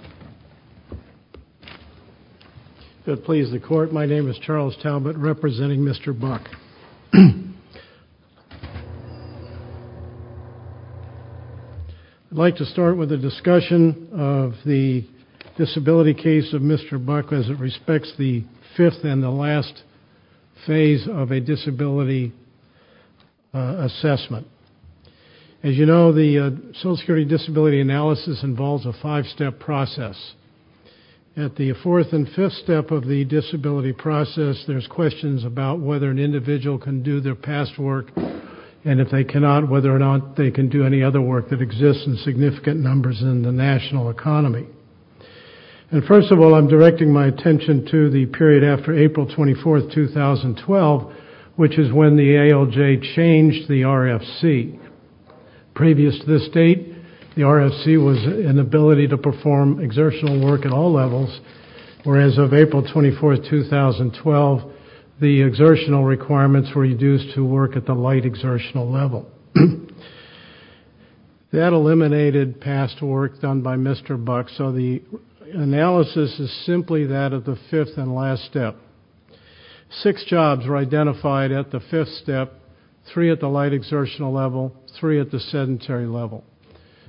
I would like to start with a discussion of the disability case of Mr. Buck as it respects the fifth and the last phase of a disability assessment. As you know, the Social Security disability analysis involves a five-step process. At the fourth and fifth step of the disability process, there's questions about whether an individual can do their past work and if they cannot, whether or not they can do any other work that exists in significant numbers in the national economy. And first of all, I'm directing my attention to the RFC was an ability to perform exertional work at all levels, whereas of April 24, 2012, the exertional requirements were reduced to work at the light exertional level. That eliminated past work done by Mr. Buck, so the analysis is simply that of the fifth and last step. Six jobs were identified at the fifth step, three at the light exertional level, three at the sedentary level.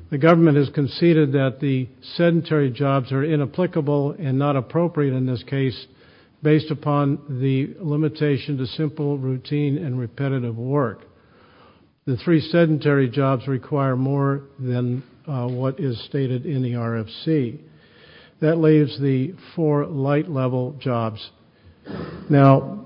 The government has conceded that the sedentary jobs are inapplicable and not appropriate in this case based upon the limitation to simple routine and repetitive work. The three sedentary jobs require more than what is stated in the RFC. That leaves the four light level jobs. Now,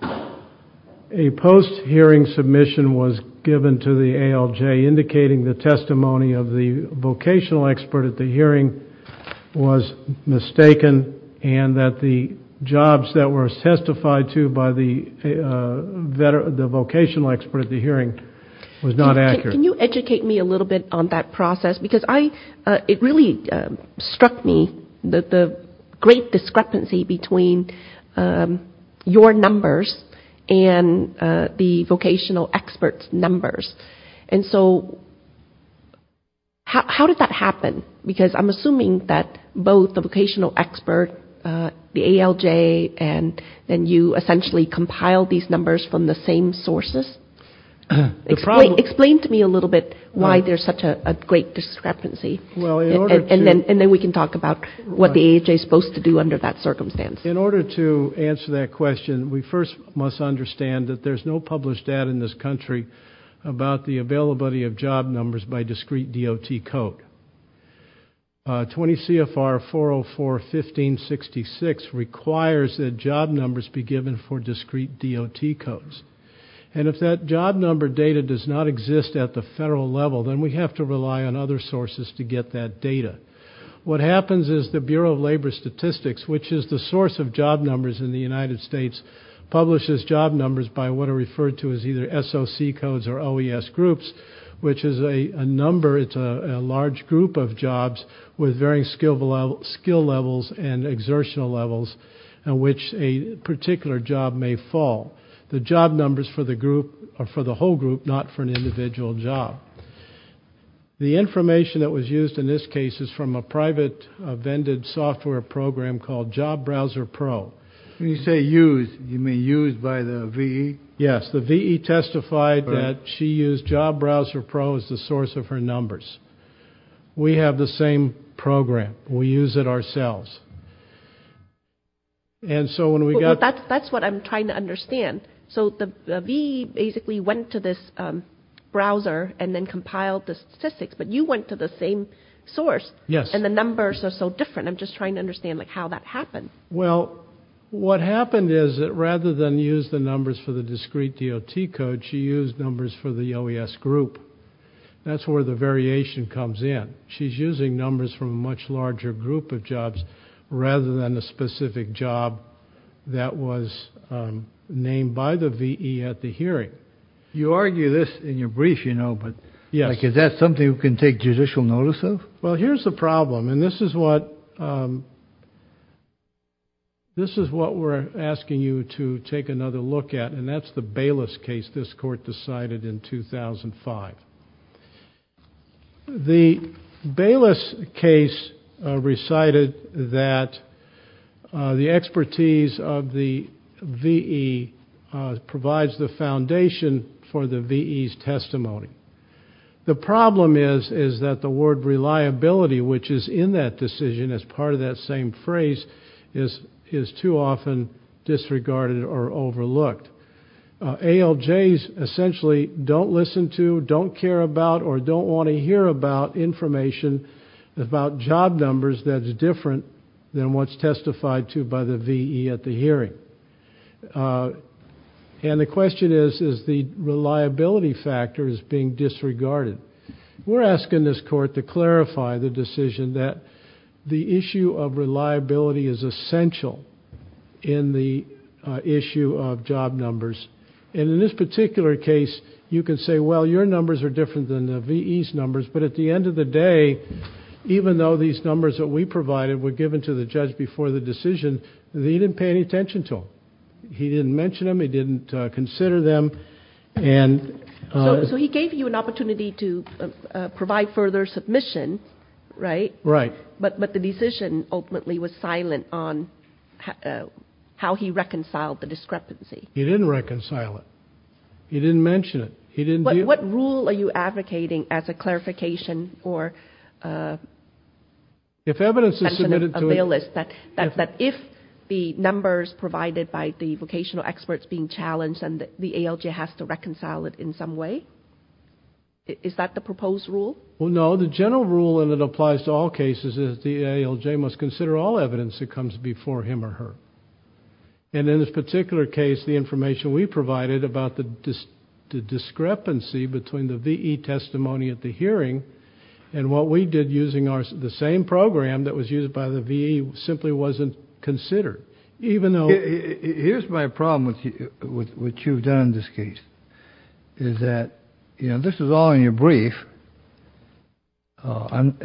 a post-hearing submission was given to the ALJ indicating the testimony of the vocational expert at the hearing was mistaken and that the jobs that were testified to by the vocational expert at the hearing was not accurate. Can you educate me a little bit on that process? Because it really struck me, the great discrepancy between your numbers and the vocational expert's numbers. And so how did that happen? Because I'm assuming that both the vocational expert, the ALJ, and then you essentially compiled these numbers from the same sources. Explain to me a little bit why there's such a great discrepancy. And then we can talk about what the ALJ is supposed to do under that circumstance. In order to answer that question, we first must understand that there's no published data in this country about the availability of job numbers by discrete DOT code. 20 CFR 404 1566 requires that job numbers be given for discrete DOT codes. And if that job number data does not exist at the federal level, then we have to rely on other sources to get that data. What happens is the Bureau of Labor Statistics, which is the source of job numbers in the United States, publishes job numbers by what are referred to as either SOC codes or OES groups, which is a number, it's a large group of jobs with varying skill levels and exertional levels in which a particular job may fall. The job numbers for the group, for the whole group, not for an individual job. The information that was used in this case is from a private vended software program called Job Browser Pro. When you say used, you mean used by the VE? Yes, the VE testified that she used Job Browser Pro as the source of her numbers. We have the same program. We use it ourselves. And so when we got... That's what I'm trying to understand. So the VE basically went to this browser and then compiled the statistics, but you went to the same source. Yes. And the numbers are so different. I'm just trying to understand how that happened. Well, what happened is that rather than use the numbers for the discrete DOT code, she used numbers for the OES group. That's where the variation comes in. She's using numbers from a much larger group of jobs rather than a specific job that was named by the VE at the hearing. You argue this in your brief, you know, but is that something you can take judicial notice of? Well, here's the problem, and this is what we're asking you to take another look at, and that's the Bayless case this court decided in 2005. The Bayless case recited that the expertise of the VE provides the foundation for the VE's testimony. The problem is that the word reliability, which is in that decision as part of that same phrase, is too often disregarded or overlooked. ALJs essentially don't listen to, don't care about, or don't want to hear about information about job numbers that's different than what's testified to by the VE at the hearing. And the question is, is the reliability factor is being disregarded. We're asking this court to clarify the decision that the issue of reliability is essential in the issue of job numbers. And in this particular case, you can say, well, your numbers are different than the VE's numbers, but at the end of the day, even though these numbers that we provided were given to the judge before the decision, he didn't pay any attention to them. He didn't mention them, he didn't consider them. So he gave you an opportunity to provide further submission, right? Right. But the decision ultimately was silent on how he reconciled the discrepancy. He didn't reconcile it. He didn't mention it. He didn't do it. What rule are you advocating as a clarification or a list that if the numbers provided by the vocational experts being challenged and the ALJ has to reconcile it in some way, is that the proposed rule? Well, no. The general rule, and it applies to all cases, is the ALJ must consider all evidence that comes before him or her. And in this particular case, the information we provided about the discrepancy between the VE testimony at the hearing and what we did using the same program that was used by the VE simply wasn't considered, even though... Here's my problem with what you've done in this case, is that, you know, this is all in your brief. I'm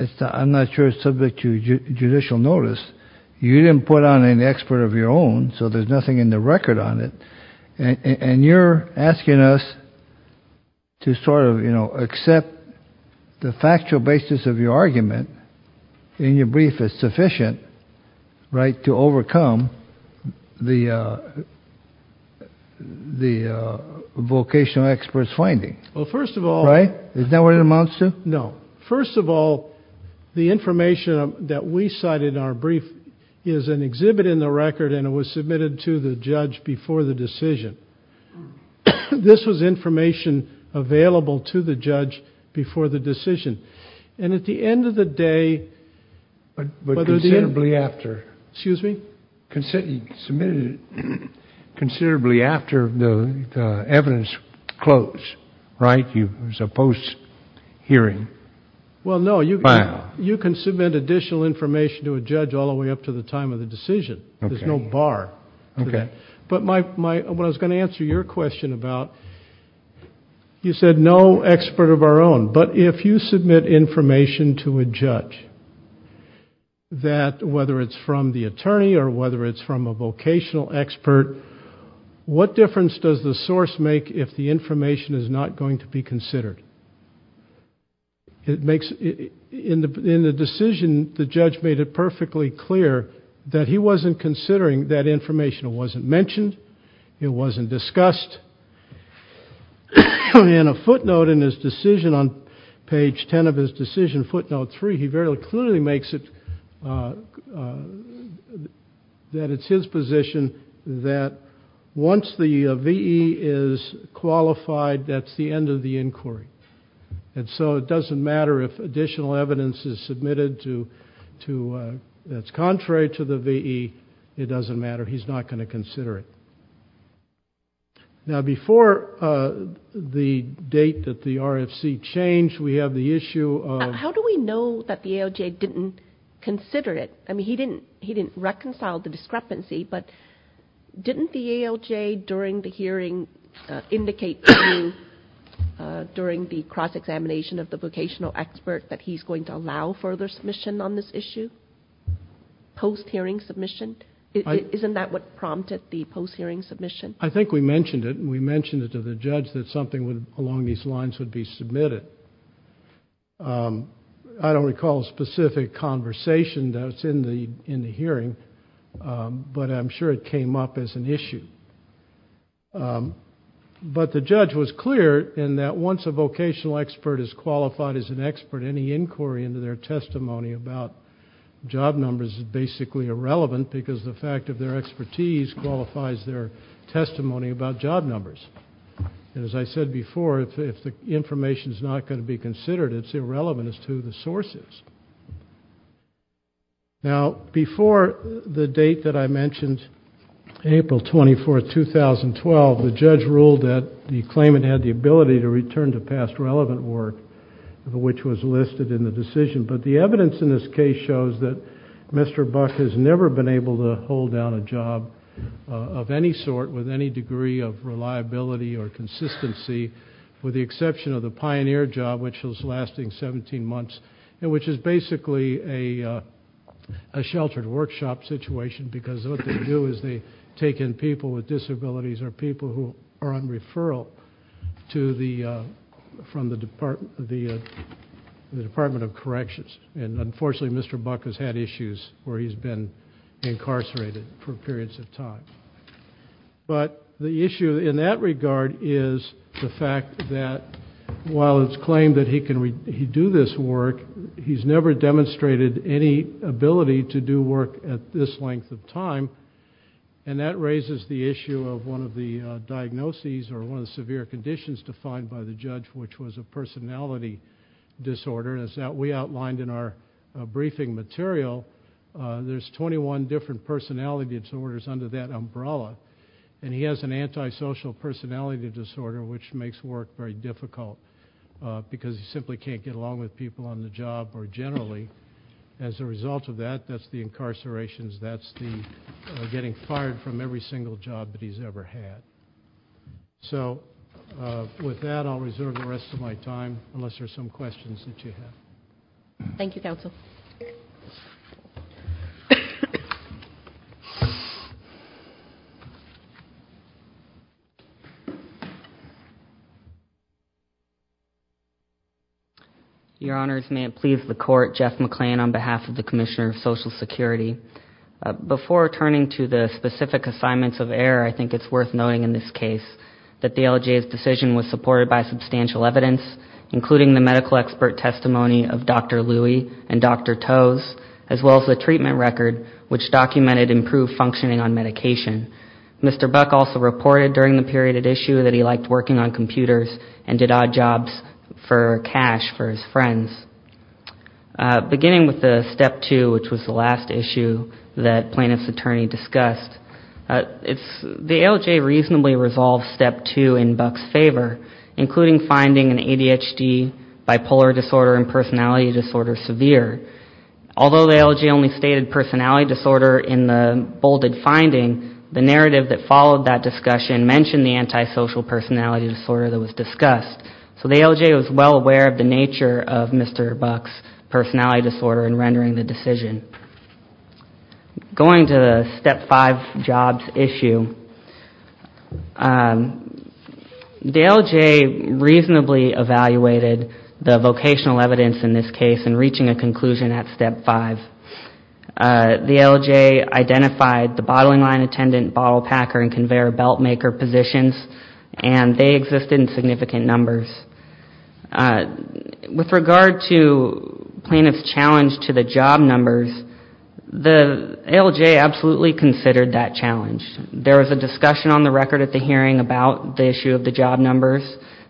not sure it's subject to judicial notice. You didn't put on an expert of your own, so there's nothing in the record on it. And you're asking us to sort of, you know, accept the factual basis of your argument in your brief is sufficient, right, to overcome the vocational experts' finding. Well, first of all... Right? Is that what it amounts to? No. First of all, the information that we cited in our brief is an exhibit in the record and it was submitted to the judge before the decision. This was information available to the judge before the decision. And at the end of the day... But considerably after... Excuse me? Considerably after the evidence closed, right? It was a post-hearing file. Well, no. You can submit additional information to a judge all the way up to the time of the decision. There's no bar to that. But what I was going to answer your question about, you said no expert of our own. But if you submit information to a judge, that whether it's from the attorney or whether it's from a vocational expert, what difference does the source make if the information is not going to be considered? In the decision, the judge made it perfectly clear that he wasn't considering that information. It wasn't mentioned. It wasn't discussed. And a footnote in his decision on page 10 of his decision, footnote three, he very clearly makes it... That it's his position that once the VE is qualified, that's the end of the inquiry. And so it doesn't matter if additional evidence is submitted to... That's contrary to the VE. It doesn't matter. He's not going to consider it. Now before the date that the RFC changed, we have the issue of... How do we know that the ALJ didn't consider it? I mean, he didn't reconcile the discrepancy, but didn't the ALJ during the hearing indicate to you during the cross-examination of the submission on this issue, post-hearing submission? Isn't that what prompted the post-hearing submission? I think we mentioned it. We mentioned it to the judge that something along these lines would be submitted. I don't recall a specific conversation that's in the hearing, but I'm sure it came up as an issue. But the judge was clear in that once a vocational expert is qualified as an expert, any inquiry into their testimony about job numbers is basically irrelevant because the fact of their expertise qualifies their testimony about job numbers. And as I said before, if the information is not going to be considered, it's irrelevant as to who the source is. Now before the date that I mentioned, April 24, 2012, the judge ruled that the claimant had the ability to return to past relevant work, which was listed in the decision. But the evidence in this case shows that Mr. Buck has never been able to hold down a job of any sort with any degree of reliability or consistency, with the exception of the Pioneer job, which was lasting 17 months, and which is basically a sheltered workshop situation because what they do is they take in people with disabilities or people who are on referral to the, from the Department of Corrections. And unfortunately Mr. Buck has had issues where he's been incarcerated for periods of time. But the issue in that regard is the fact that while it's claimed that he can do this work, he's never demonstrated any ability to do work at this length of time. And that raises the issue of one of the diagnoses or one of the severe conditions defined by the judge, which was a personality disorder. As we outlined in our briefing material, there's 21 different personality disorders under that umbrella. And he has an antisocial personality disorder, which makes work very difficult because he simply can't get along with people on the job or generally. As a result of that, that's the incarcerations, that's the getting fired from every single job that he's ever had. So with that, I'll reserve the rest of my time, unless there's some questions that you have. Thank you, Counsel. Your Honors, may it please the Court, Jeff McClain on behalf of the Commissioner of Social Security. Before turning to the specific assignments of error, I think it's worth noting in this case that the LGA's decision was supported by substantial evidence, including the medical expert testimony of Dr. Louie and Dr. Tose, as well as the treatment record, which documented improved functioning on medication. Mr. Buck also reported during the period at issue that he liked working on computers and did odd jobs for cash for his friends. Beginning with the step two, which was the last issue that plaintiff's attorney discussed, the LGA reasonably resolved step two in Buck's favor, including finding an ADHD, bipolar disorder, and personality disorder severe. Although the LGA only stated personality disorder in the bolded finding, the narrative that followed that discussion mentioned the antisocial personality disorder that was discussed. So the LGA was well aware of the nature of Mr. Buck's personality disorder in rendering the decision. Going to the step five jobs issue, the LGA reasonably evaluated the vocational evidence in this case in reaching a conclusion at step five. The LGA identified the bottling line attendant, bottle packer, and conveyor belt maker positions, and they existed in significant numbers. With regard to plaintiff's challenge to the job numbers, the LGA absolutely considered that challenge. There was a discussion on the record at the hearing about the issue of the job numbers.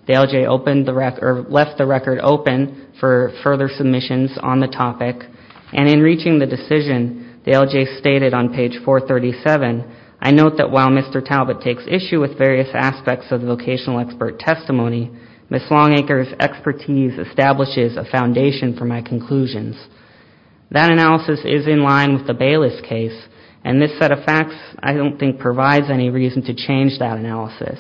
The LGA opened the record, or left the record open for further submissions on the topic. And in reaching the decision the LGA stated on page 437, I note that while Mr. Talbot takes issue with various aspects of the vocational expert testimony, Ms. Longacre's expertise establishes a foundation for my conclusions. That analysis is in line with the Bayless case, and this set of facts I don't think provides any reason to change that analysis.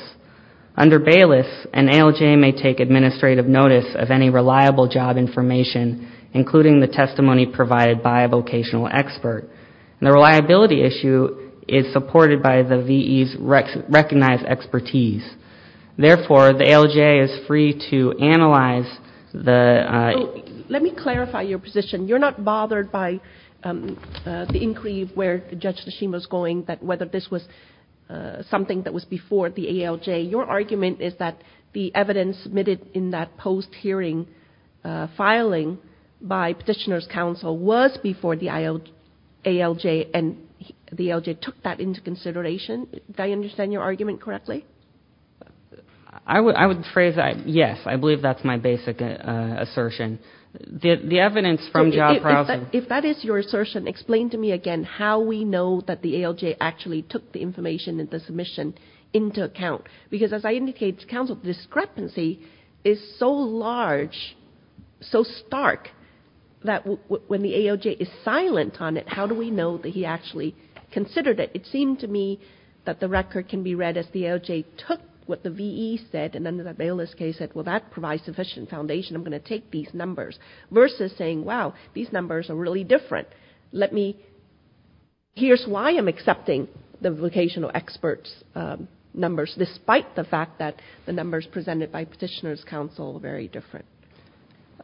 Under Bayless, an ALJ may take administrative notice of any reliable job information, including the testimony provided by a vocational expert. And the reliability issue is supported by the VE's recognized expertise. Therefore, the ALJ is free to analyze the... Let me clarify your position. You're not bothered by the inquiry where Judge Tashima is going, that whether this was something that was before the ALJ. Your argument is that the evidence submitted in that post-hearing filing by Petitioner's Counsel was before the ALJ, and the ALJ took that into consideration. Do I understand your argument correctly? I would phrase it, yes. I believe that's my basic assertion. The evidence from job browsing... If that is your assertion, explain to me again how we know that the ALJ actually took the VE, is so large, so stark, that when the ALJ is silent on it, how do we know that he actually considered it? It seemed to me that the record can be read as the ALJ took what the VE said, and under the Bayless case said, well, that provides sufficient foundation. I'm going to take these numbers, versus saying, wow, these numbers are really different. Here's why I'm accepting the vocational experts' numbers, despite the fact that the numbers presented by Petitioner's Counsel are very different.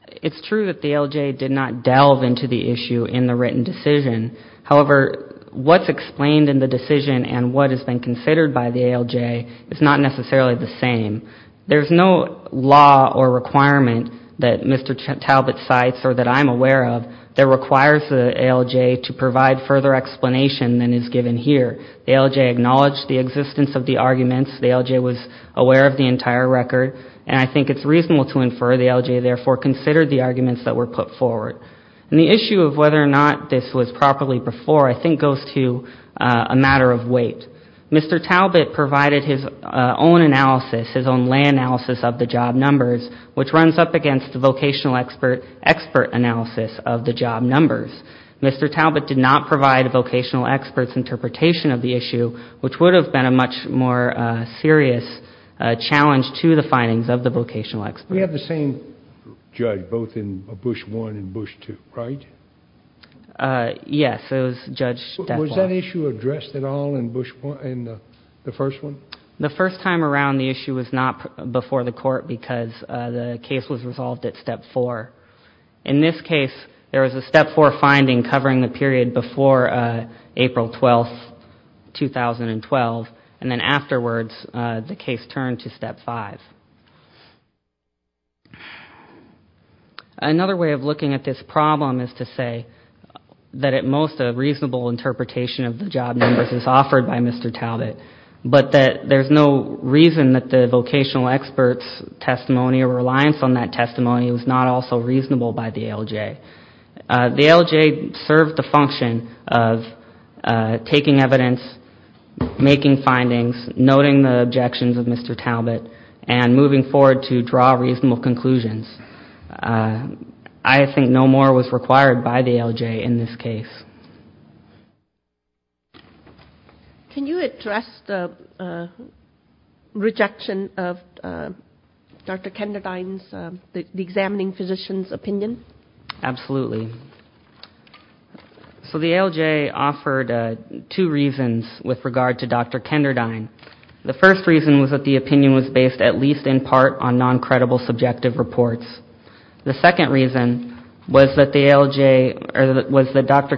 It's true that the ALJ did not delve into the issue in the written decision. However, what's explained in the decision, and what has been considered by the ALJ, is not necessarily the same. There's no law or requirement that Mr. Talbot cites, or that I'm aware of, that requires the ALJ to provide further explanation than is given here. The ALJ acknowledged the existence of the arguments. The ALJ was aware of the entire record. And I think it's reasonable to infer the ALJ, therefore, considered the arguments that were put forward. And the issue of whether or not this was properly before, I think, goes to a matter of weight. Mr. Talbot provided his own analysis, his own lay analysis of the job numbers, which runs up against the vocational expert analysis of the job numbers. Mr. Talbot did not provide vocational experts' interpretation of the issue, which would have been a much more serious challenge to the findings of the vocational experts. We have the same judge, both in Bush 1 and Bush 2, right? Yes, it was Judge Stethoff. Was that issue addressed at all in Bush 1, in the first one? The first time around, the issue was not before the Court, because the case was resolved at In this case, there was a Step 4 finding covering the period before April 12, 2012. And then afterwards, the case turned to Step 5. Another way of looking at this problem is to say that at most, a reasonable interpretation of the job numbers is offered by Mr. Talbot, but that there's no reason that the vocational experts' testimony or reliance on that testimony was not also reasonable by the ALJ. The ALJ served the function of taking evidence, making findings, noting the objections of Mr. Talbot, and moving forward to draw reasonable conclusions. I think no more was required by the ALJ in this case. Can you address the rejection of Dr. Kenderdine's, the examining physician's opinion? Absolutely. So the ALJ offered two reasons with regard to Dr. Kenderdine. The first reason was that the opinion was based at least in part on non-credible subjective reports. The second reason was that the ALJ, or was that Dr.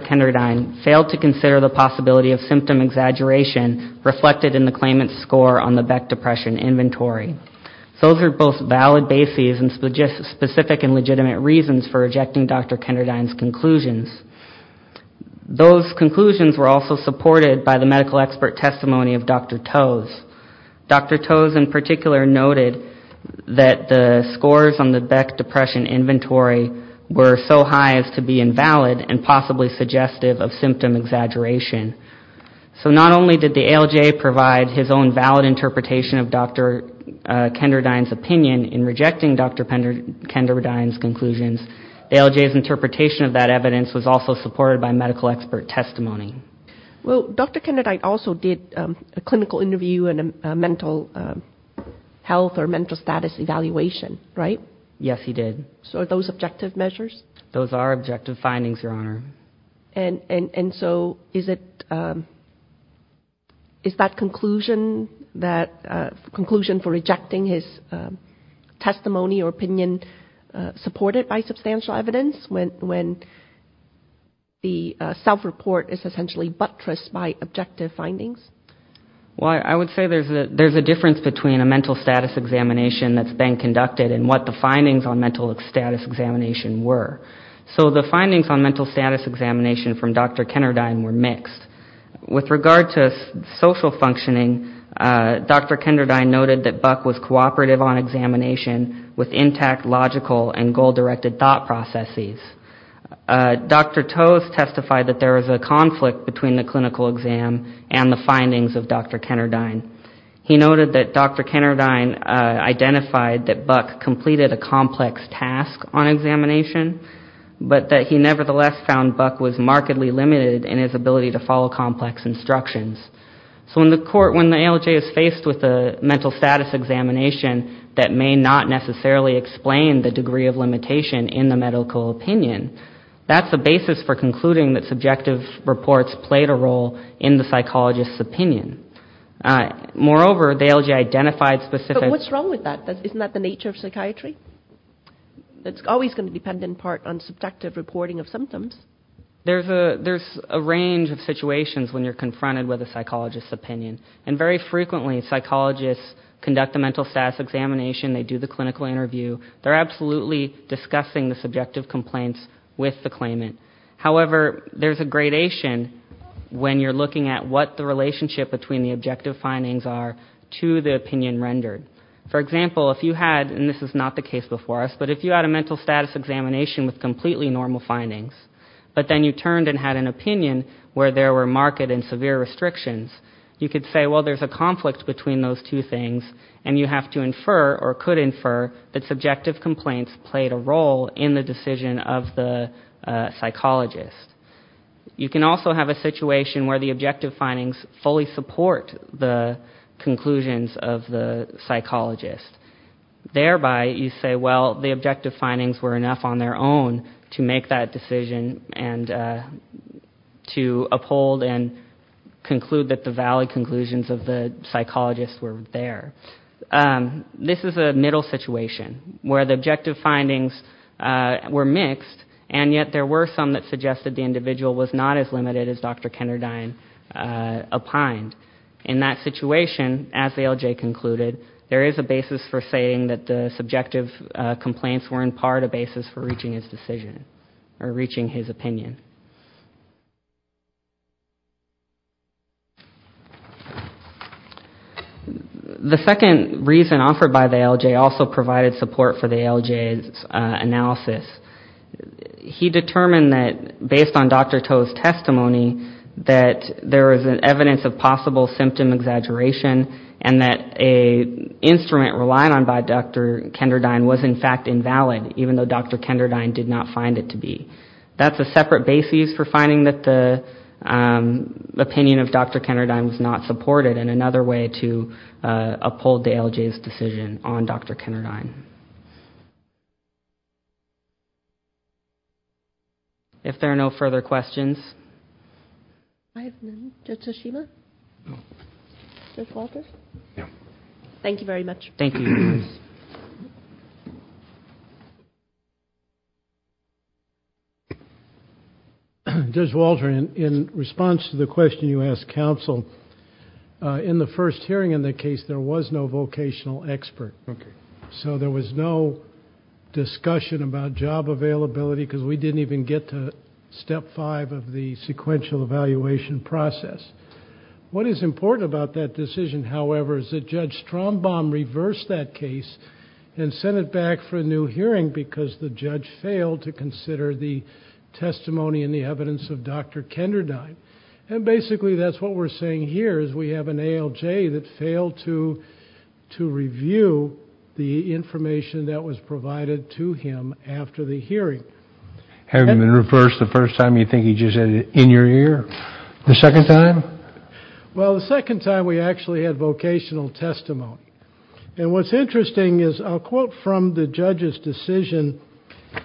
Kenderdine's opinion was based on Dr. Kenderdine, failed to consider the possibility of symptom exaggeration reflected in the claimant's score on the Beck Depression Inventory. Those are both valid bases and specific and legitimate reasons for rejecting Dr. Kenderdine's conclusions. Those conclusions were also supported by the medical expert testimony of Dr. Tose. Dr. Tose in particular noted that the scores on the Beck Depression Inventory were so high as to be invalid and possibly suggestive of symptom exaggeration. So not only did the ALJ provide his own valid interpretation of Dr. Kenderdine's opinion in rejecting Dr. Kenderdine's conclusions, ALJ's interpretation of that evidence was also supported by medical expert testimony. Well, Dr. Kenderdine also did a clinical interview and a mental health or mental status evaluation, right? Yes, he did. So are those objective measures? Those are objective findings, Your Honor. And so is that conclusion for rejecting his testimony or opinion supported by substantial evidence when the self-report is essentially buttressed by objective findings? Well, I would say there's a difference between a mental status examination that's been conducted and what the findings on mental status examination were. So the findings on mental status examination from Dr. Kenderdine were mixed. With regard to social functioning, Dr. Kenderdine noted that Buck was cooperative on examination with intact logical and goal-directed thought processes. Dr. Tose testified that there was a conflict between the clinical exam and the findings of Dr. Kenderdine. He noted that Dr. Kenderdine identified that Buck completed a complex task on examination, but that he nevertheless found Buck was markedly limited in his ability to follow complex instructions. So in the court, when the ALJ is faced with a mental status examination that may not necessarily explain the degree of limitation in the medical opinion, that's the basis for concluding that subjective Moreover, the ALJ identified specific... But what's wrong with that? Isn't that the nature of psychiatry? It's always going to depend in part on subjective reporting of symptoms. There's a range of situations when you're confronted with a psychologist's opinion. And very frequently, psychologists conduct a mental status examination. They do the clinical interview. They're absolutely discussing the subjective complaints with the claimant. However, there's a gradation when you're looking at what the relationship between the objective findings are to the opinion rendered. For example, if you had, and this is not the case before us, but if you had a mental status examination with completely normal findings, but then you turned and had an opinion where there were marked and severe restrictions, you could say, well, there's a conflict between those two things, and you have to infer, or could infer, that subjective complaints played a role in the decision of the psychologist. You can also have a situation where the objective findings fully support the conclusions of the psychologist. Thereby, you say, well, the objective findings were enough on their own to make that decision and to uphold and conclude that the valid conclusions of the psychologist were there. This is a middle situation where the objective findings were mixed, and yet there were some that suggested the individual was not as limited as Dr. Kenderdine opined. In that situation, as the LJ concluded, there is a basis for saying that the subjective complaints were in part a basis for reaching his decision, or reaching his opinion. The second reason offered by the LJ also provided support for the LJ's analysis. He determined that based on Dr. Toh's testimony, that there is evidence of possible symptom exaggeration, and that an instrument relied on by Dr. Kenderdine was in fact invalid, even though Dr. Kenderdine did not find it to be. That's a separate basis for finding that the opinion of Dr. Kenderdine was not supported, and another way to uphold the LJ's decision on Dr. Kenderdine. Thank you. If there are no further questions. Thank you very much. Judge Walter, in response to the question you asked counsel, in the first hearing in the case, there was no vocational expert. So there was no discussion about job availability, because we didn't even get to step five of the sequential evaluation process. What is important about that decision, however, is that Judge Strombaum reversed that case and sent it back for a new hearing because the judge failed to consider the testimony and the evidence of Dr. Kenderdine. And basically that's what we're saying here, is we have an ALJ that failed to review the information that was provided to him after the hearing. Have you been reversed the first time, or do you think he just said it in your ear? The second time? Well, the second time we actually had vocational testimony. And what's interesting is, I'll quote from the judge's decision.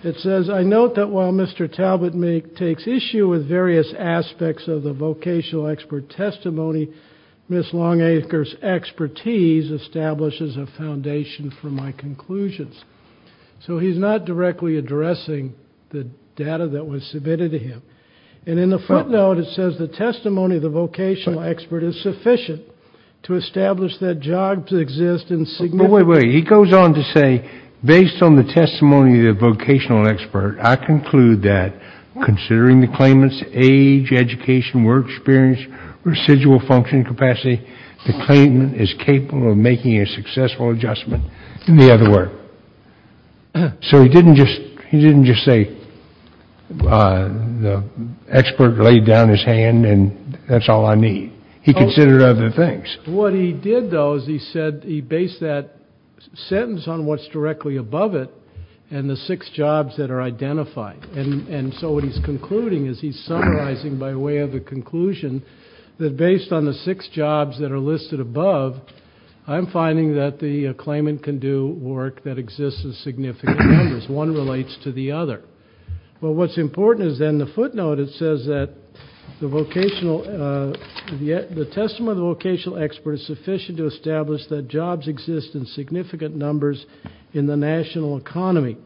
It says, I note that while Mr. Talbot takes issue with various aspects of the vocational expert testimony, Ms. Longacre's expertise establishes a foundation for my conclusions. So he's not directly addressing the data that was submitted to him. And in the footnote, it says the testimony of the vocational expert is sufficient to establish that jobs exist in significant. Wait, wait, he goes on to say, based on the testimony of the vocational expert, I conclude that considering the claimant's age, education, work experience, residual functioning capacity, the claimant is capable of making a successful adjustment. In the other word. So he didn't just say the expert laid down his hand and that's all I need. He considered other things. What he did, though, is he said he based that sentence on what's directly above it and the six jobs that are identified. And so what he's concluding is he's summarizing by way of a conclusion that based on the six jobs that are listed above, I'm finding that the claimant can do work that exists in significant numbers. One relates to the other. Well, what's important is then the footnote, it says that the vocational, the testimony of the vocational expert is sufficient to establish that jobs exist in significant numbers in the national economy.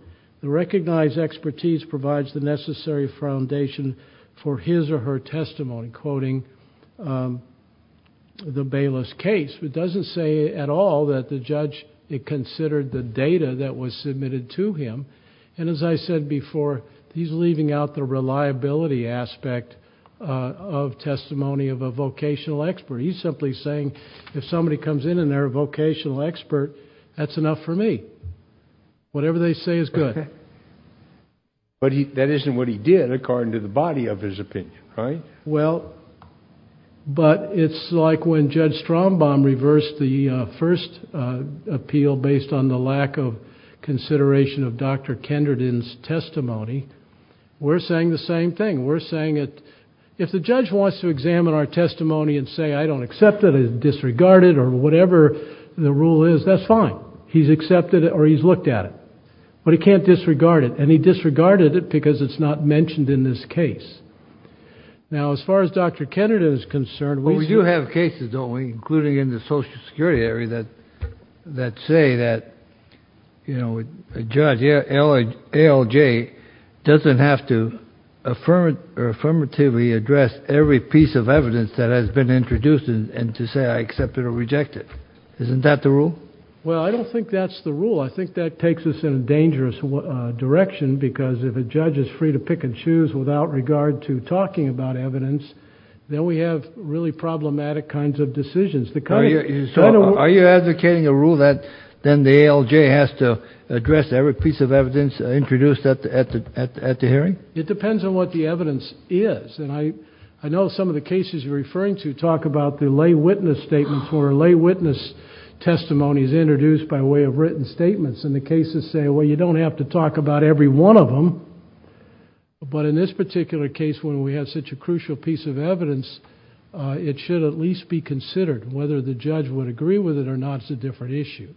The recognized expertise provides the necessary foundation for his or her testimony. Quoting the Bayless case, it doesn't say at all that the judge considered the data that was submitted to him. And as I said before, he's leaving out the reliability aspect of testimony of a vocational expert. He's simply saying if somebody comes in and they're a vocational expert, that's enough for me. Whatever they say is good. But that isn't what he did according to the body of his opinion, right? Well, but it's like when Judge Strombaum reversed the first appeal based on the lack of consideration of Dr. Kenderdine's testimony. We're saying the same thing. If the judge wants to examine our testimony and say, I don't accept it, it's disregarded or whatever the rule is, that's fine. He's accepted it or he's looked at it. But he can't disregard it, and he disregarded it because it's not mentioned in this case. Now, as far as Dr. Kenderdine is concerned... he doesn't have to affirmatively address every piece of evidence that has been introduced and to say I accept it or reject it. Isn't that the rule? Well, I don't think that's the rule. I think that takes us in a dangerous direction because if a judge is free to pick and choose without regard to talking about evidence, then we have really problematic kinds of decisions. Are you advocating a rule that then the ALJ has to address every piece of evidence introduced at the hearing? It depends on what the evidence is. And I know some of the cases you're referring to talk about the lay witness statements or lay witness testimonies introduced by way of written statements. And the cases say, well, you don't have to talk about every one of them. But in this particular case, when we have such a crucial piece of evidence, it should at least be considered whether the judge would agree with it or not is a different issue.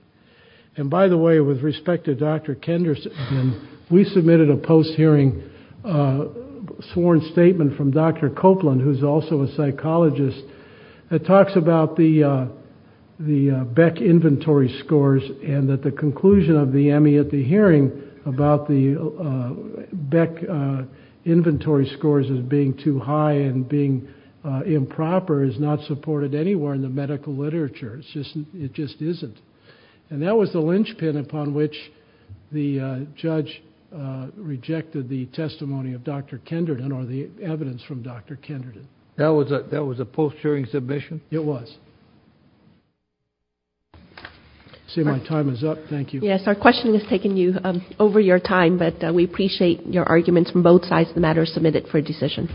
And by the way, with respect to Dr. Kenderdine, we submitted a post-hearing sworn statement from Dr. Copeland, who's also a psychologist, that talks about the Beck inventory scores and that the conclusion of the Emmy at the hearing about the Beck inventory scores as being too high and being improper is not supported anywhere in the medical literature. It just isn't. And that was the linchpin upon which the judge rejected the testimony of Dr. Kenderdine or the evidence from Dr. Kenderdine. That was a post-hearing submission? It was. I see my time is up. Thank you. Yes, our questioning has taken you over your time, but we appreciate your arguments from both sides of the matter. Submit it for a decision.